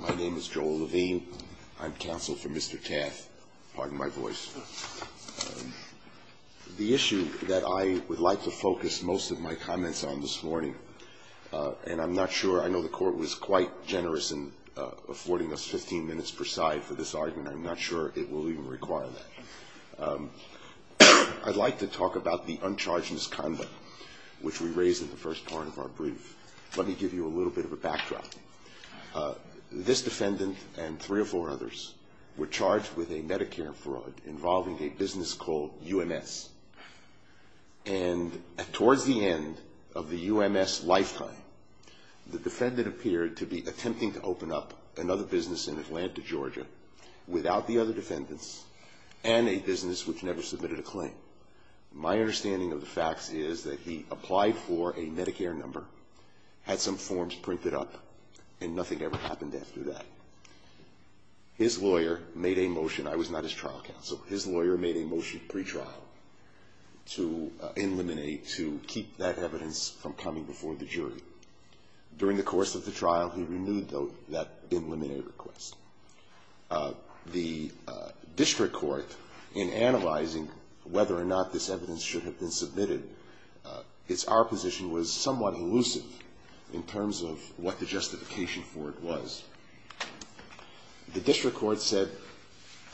My name is Joel Levine. I'm counsel for Mr. Tath. Pardon my voice. The issue that I would like to focus most of my comments on this morning, and I'm not sure I know the Court was quite generous in affording us 15 minutes per side for this argument. I'm not sure it will even require that. I'd like to talk about the uncharged misconduct, which we raise in the first part of our brief. Let me give you a little bit of a backdrop. This defendant and three or four others were charged with a Medicare fraud involving a business called UMS. And towards the end of the UMS lifetime, the defendant appeared to be attempting to open up another business in Atlanta, Georgia, without the other defendants and a business which never submitted a claim. My understanding of the facts is that he applied for a Medicare number, had some forms printed up, and nothing ever happened after that. His lawyer made a motion. I was not his trial counsel. His lawyer made a motion pretrial to eliminate, to keep that evidence from coming before the jury. During the course of the trial, he renewed that eliminate request. The district court, in analyzing whether or not this evidence should have been submitted, our position was somewhat elusive in terms of what the justification for it was. The district court said,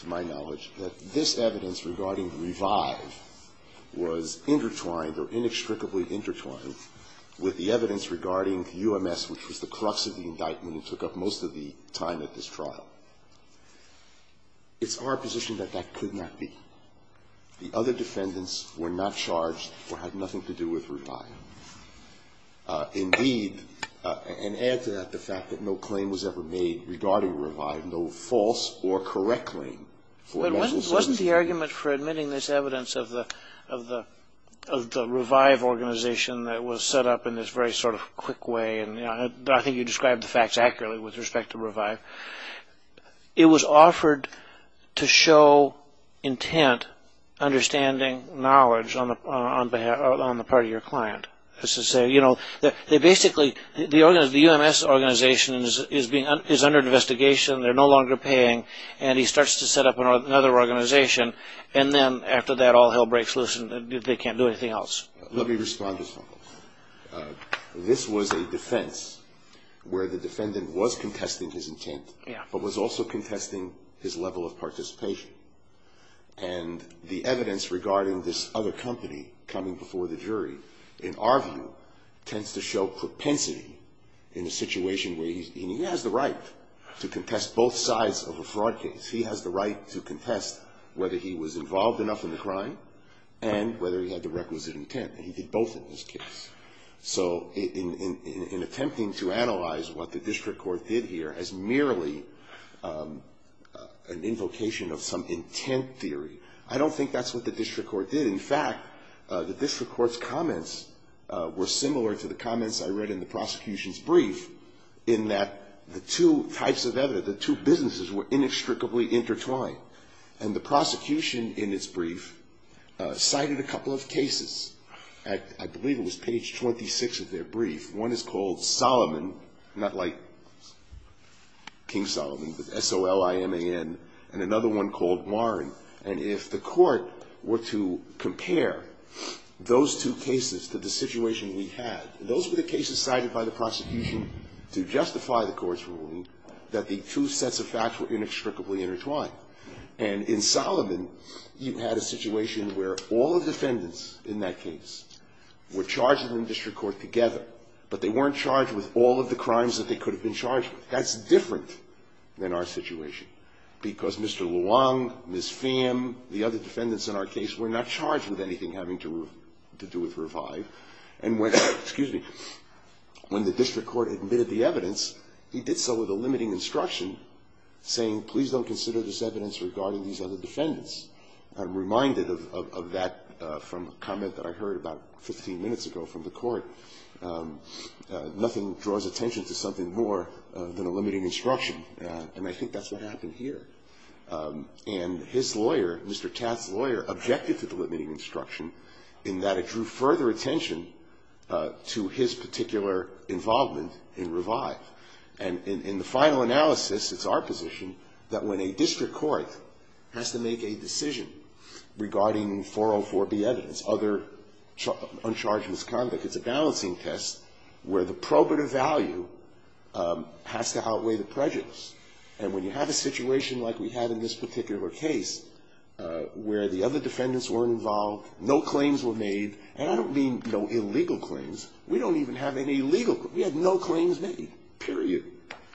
to my knowledge, that this evidence regarding revive was intertwined or inextricably intertwined with the evidence regarding UMS, which was the crux of the indictment and took up most of the time at this trial. It's our position that that could not be. The other defendants were not charged or had nothing to do with revive. Indeed, and add to that the fact that no claim was ever made regarding revive, no false or correct claim. But wasn't the argument for admitting this evidence of the revive organization that was set up in this very sort of quick way and I think you described the facts accurately with respect to revive. It was offered to show intent, understanding, knowledge on the part of your client. They basically, the UMS organization is under investigation. They're no longer paying and he starts to set up another organization and then after that all hell breaks loose and they can't do anything else. Let me respond to this one. This was a defense where the defendant was contesting his intent but was also contesting his level of participation. And the evidence regarding this other company coming before the jury, in our view, tends to show propensity in a situation where he has the right to contest both sides of a fraud case. He has the right to contest whether he was involved enough in the crime and whether he had the requisite intent. And he did both in this case. So in attempting to analyze what the district court did here as merely an invocation of some intent theory, I don't think that's what the district court did. In fact, the district court's comments were similar to the comments I read in the prosecution's brief in that the two types of evidence, the two businesses were inextricably intertwined. And the prosecution in its brief cited a couple of cases. I believe it was page 26 of their brief. One is called Solomon, not like King Solomon, but S-O-L-I-M-A-N, and another one called Warren. And if the court were to compare those two cases to the situation we had, those were the cases cited by the prosecution to justify the court's ruling that the two sets of facts were inextricably intertwined. And in Solomon, you had a situation where all the defendants in that case were charged in the district court together, but they weren't charged with all of the crimes that they could have been charged with. That's different than our situation, because Mr. Luong, Ms. Pham, the other defendants in our case, were not charged with anything having to do with Revive. And when the district court admitted the evidence, he did so with a limiting instruction saying, please don't consider this evidence regarding these other defendants. I'm reminded of that from a comment that I heard about 15 minutes ago from the court. Nothing draws attention to something more than a limiting instruction, and I think that's what happened here. And his lawyer, Mr. Tath's lawyer, objected to the limiting instruction in that it drew further attention to his particular involvement in Revive. And in the final analysis, it's our position that when a district court has to make a decision regarding 404B evidence, other uncharged misconduct, it's a balancing test where the probative value has to outweigh the prejudice. And when you have a situation like we had in this particular case, where the other defendants weren't involved, no claims were made, and I don't mean no illegal claims. We don't even have any illegal claims. We had no claims made, period.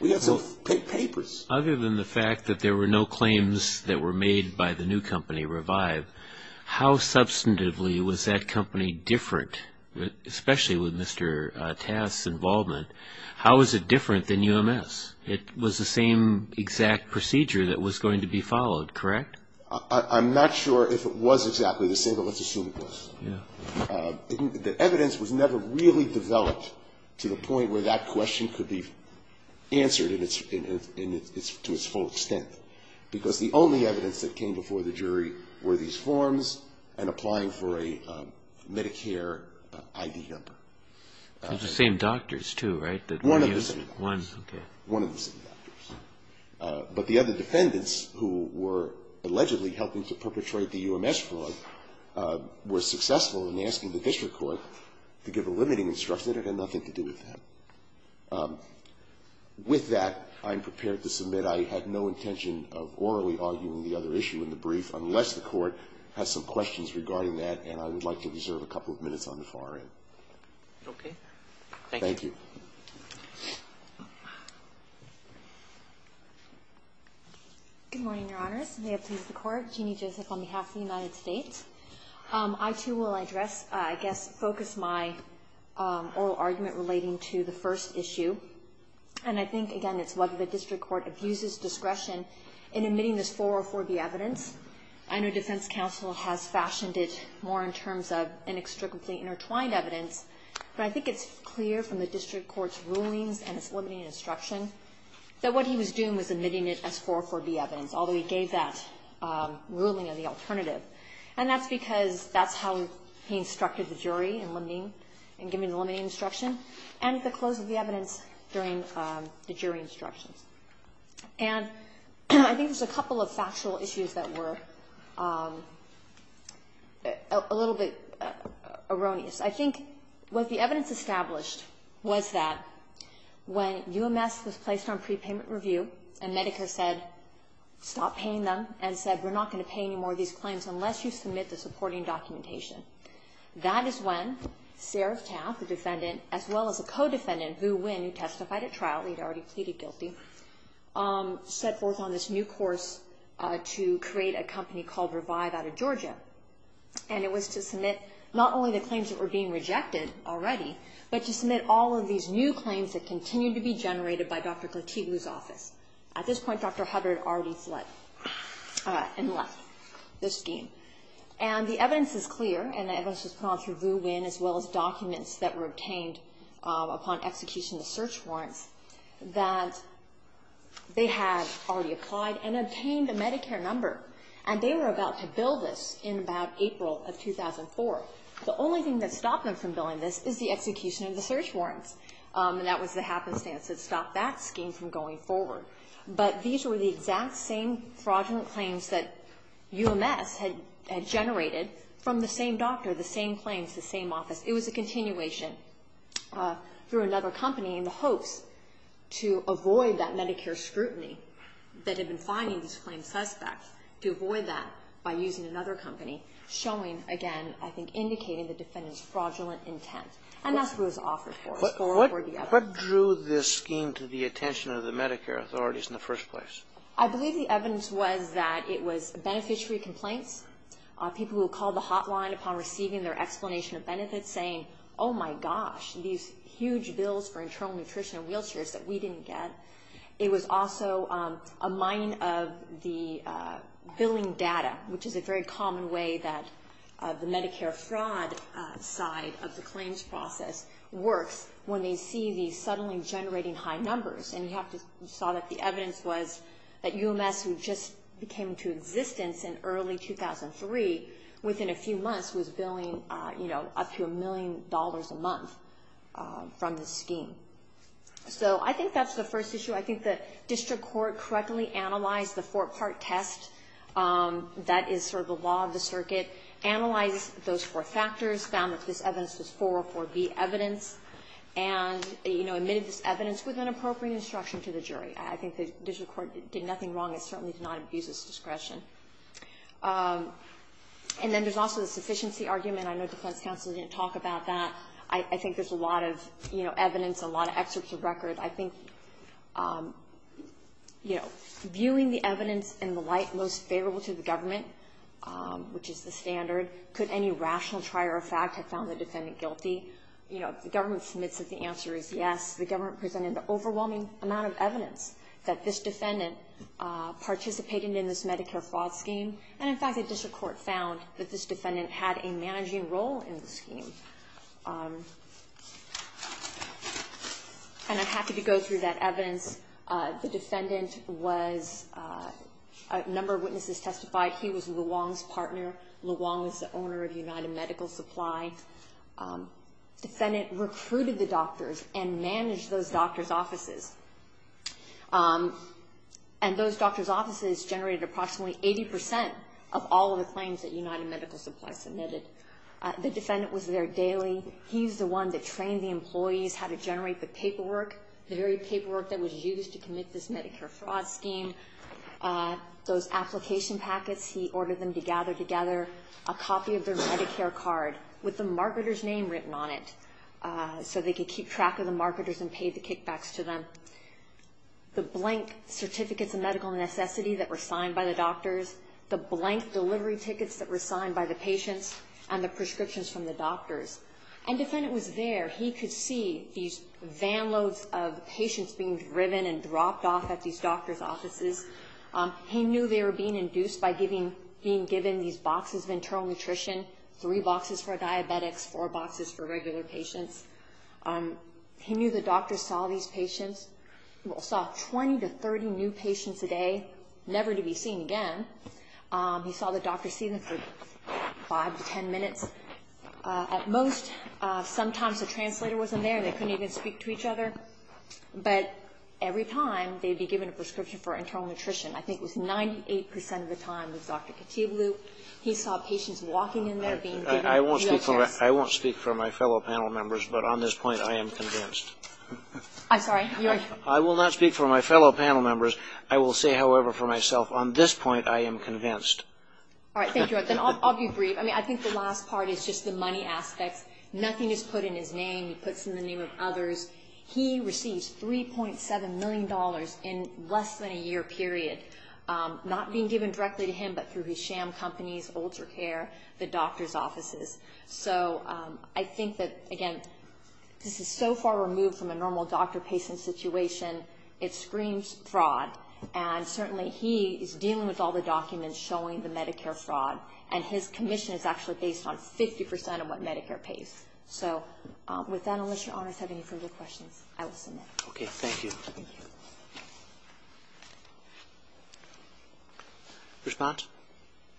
We had some papers. Other than the fact that there were no claims that were made by the new company, Revive, how substantively was that company different, especially with Mr. Tath's involvement? How was it different than UMS? It was the same exact procedure that was going to be followed, correct? I'm not sure if it was exactly the same, but let's assume it was. The evidence was never really developed to the point where that question could be answered to its full extent, because the only evidence that came before the jury were these forms and applying for a Medicare ID number. It was the same doctors, too, right? One of the same doctors. One, okay. One of the same doctors. But the other defendants who were allegedly helping to perpetrate the UMS fraud were successful in asking the district court to give a limiting instruction that had nothing to do with them. With that, I'm prepared to submit I had no intention of orally arguing the other issue in the brief unless the Court has some questions regarding that, and I would like to reserve a couple of minutes on the far end. Okay. Thank you. Thank you. Good morning, Your Honors. May it please the Court. Jeannie Joseph on behalf of the United States. I, too, will address, I guess, focus my oral argument relating to the first issue, and I think, again, it's whether the district court abuses discretion in admitting this 404B evidence. I know defense counsel has fashioned it more in terms of inextricably intertwined evidence, but I think it's clear from the district court's rulings and its limiting instruction that what he was doing was admitting it as 404B evidence, although he gave that ruling as the alternative. And that's because that's how he instructed the jury in limiting and giving the limiting instruction and at the close of the evidence during the jury instructions. And I think there's a couple of factual issues that were a little bit erroneous. I think what the evidence established was that when UMS was placed on prepayment review and Medicare said stop paying them and said we're not going to pay any more of these claims unless you submit the supporting documentation. That is when Sarah Taft, the defendant, as well as a co-defendant who, when he testified at trial, he had already pleaded guilty, set forth on this new course to create a company called Revive out of Georgia. And it was to submit not only the claims that were being rejected already, but to submit all of these new claims that continued to be generated by Dr. Khartibu's office. At this point, Dr. Hubbard had already fled and left the scheme. And the evidence is clear, and the evidence was put on through VUWIN as well as documents that were obtained upon execution of the search warrants that they had already applied and obtained a Medicare number. And they were about to bill this in about April of 2004. The only thing that stopped them from billing this is the execution of the search warrants. And that was the happenstance that stopped that scheme from going forward. But these were the exact same fraudulent claims that UMS had generated from the same doctor, the same claims, the same office. It was a continuation through another company in the hopes to avoid that Medicare scrutiny that had been finding these claimed suspects, to avoid that by using another company, showing, again, I think indicating the defendant's fraudulent intent. And that's what it was offered for. What drew this scheme to the attention of the Medicare authorities in the first place? I believe the evidence was that it was beneficiary complaints, people who called the hotline upon receiving their explanation of benefits saying, oh, my gosh, these huge bills for internal nutrition and wheelchairs that we didn't get. It was also a mining of the billing data, which is a very common way that the Medicare fraud side of the claims process works when they see these suddenly generating high numbers. And you saw that the evidence was that UMS, who just came into existence in early 2003, within a few months was billing up to a million dollars a month from this scheme. So I think that's the first issue. I think the district court correctly analyzed the four-part test. That is sort of the law of the circuit. Analyzed those four factors, found that this evidence was 404B evidence, and, you know, admitted this evidence with an appropriate instruction to the jury. I think the district court did nothing wrong. It certainly did not abuse its discretion. And then there's also the sufficiency argument. I know defense counsel didn't talk about that. I think there's a lot of evidence, a lot of excerpts of record. I think, you know, viewing the evidence in the light most favorable to the government, which is the standard, could any rational trier of fact have found the defendant guilty? You know, if the government submits that the answer is yes, the government presented an overwhelming amount of evidence that this defendant participated in this Medicare fraud scheme. And, in fact, the district court found that this defendant had a managing role in the scheme. And I'm happy to go through that evidence. The defendant was a number of witnesses testified. He was Luong's partner. Luong was the owner of United Medical Supply. And those doctor's offices generated approximately 80% of all of the claims that United Medical Supply submitted. The defendant was there daily. He's the one that trained the employees how to generate the paperwork, the very paperwork that was used to commit this Medicare fraud scheme, those application packets. He ordered them to gather together a copy of their Medicare card with the marketer's name written on it so they could keep track of the marketers and pay the kickbacks to them, the blank certificates of medical necessity that were signed by the doctors, the blank delivery tickets that were signed by the patients, and the prescriptions from the doctors. And the defendant was there. He could see these van loads of patients being driven and dropped off at these doctor's offices. He knew they were being induced by being given these boxes of internal nutrition, three boxes for diabetics, four boxes for regular patients. He knew the doctors saw these patients. He saw 20 to 30 new patients a day, never to be seen again. He saw the doctors see them for 5 to 10 minutes at most. Sometimes the translator wasn't there. They couldn't even speak to each other. But every time they'd be given a prescription for internal nutrition, I think it was 98% of the time it was Dr. Katibloo. He saw patients walking in there being given wheelchairs. I won't speak for my fellow panel members, but on this point I am convinced. I'm sorry? I will not speak for my fellow panel members. I will say, however, for myself, on this point I am convinced. All right. Thank you. I'll be brief. I think the last part is just the money aspect. Nothing is put in his name. He puts it in the name of others. He receives $3.7 million in less than a year period, not being given directly to him, but through his sham companies, ultra care, the doctor's offices. So I think that, again, this is so far removed from a normal doctor-patient situation. It screams fraud. And certainly he is dealing with all the documents showing the Medicare fraud, and his commission is actually based on 50% of what Medicare pays. So with that, unless your honors have any further questions, I will submit. Okay. Thank you. Response?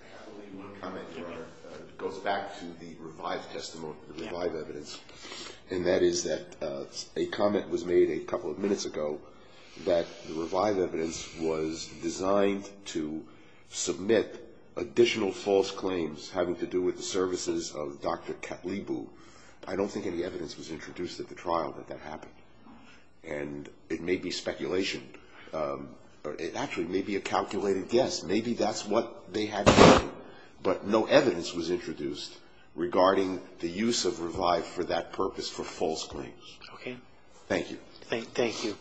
I have only one comment, Your Honor. It goes back to the revived testimony, the revived evidence, and that is that a comment was made a couple of minutes ago that the revived evidence was designed to submit additional false claims having to do with the services of Dr. Katlibu. I don't think any evidence was introduced at the trial that that happened. And it may be speculation. It actually may be a calculated guess. Maybe that's what they had in mind, but no evidence was introduced regarding the use of revived for that purpose for false claims. Okay. Thank you. Thank you.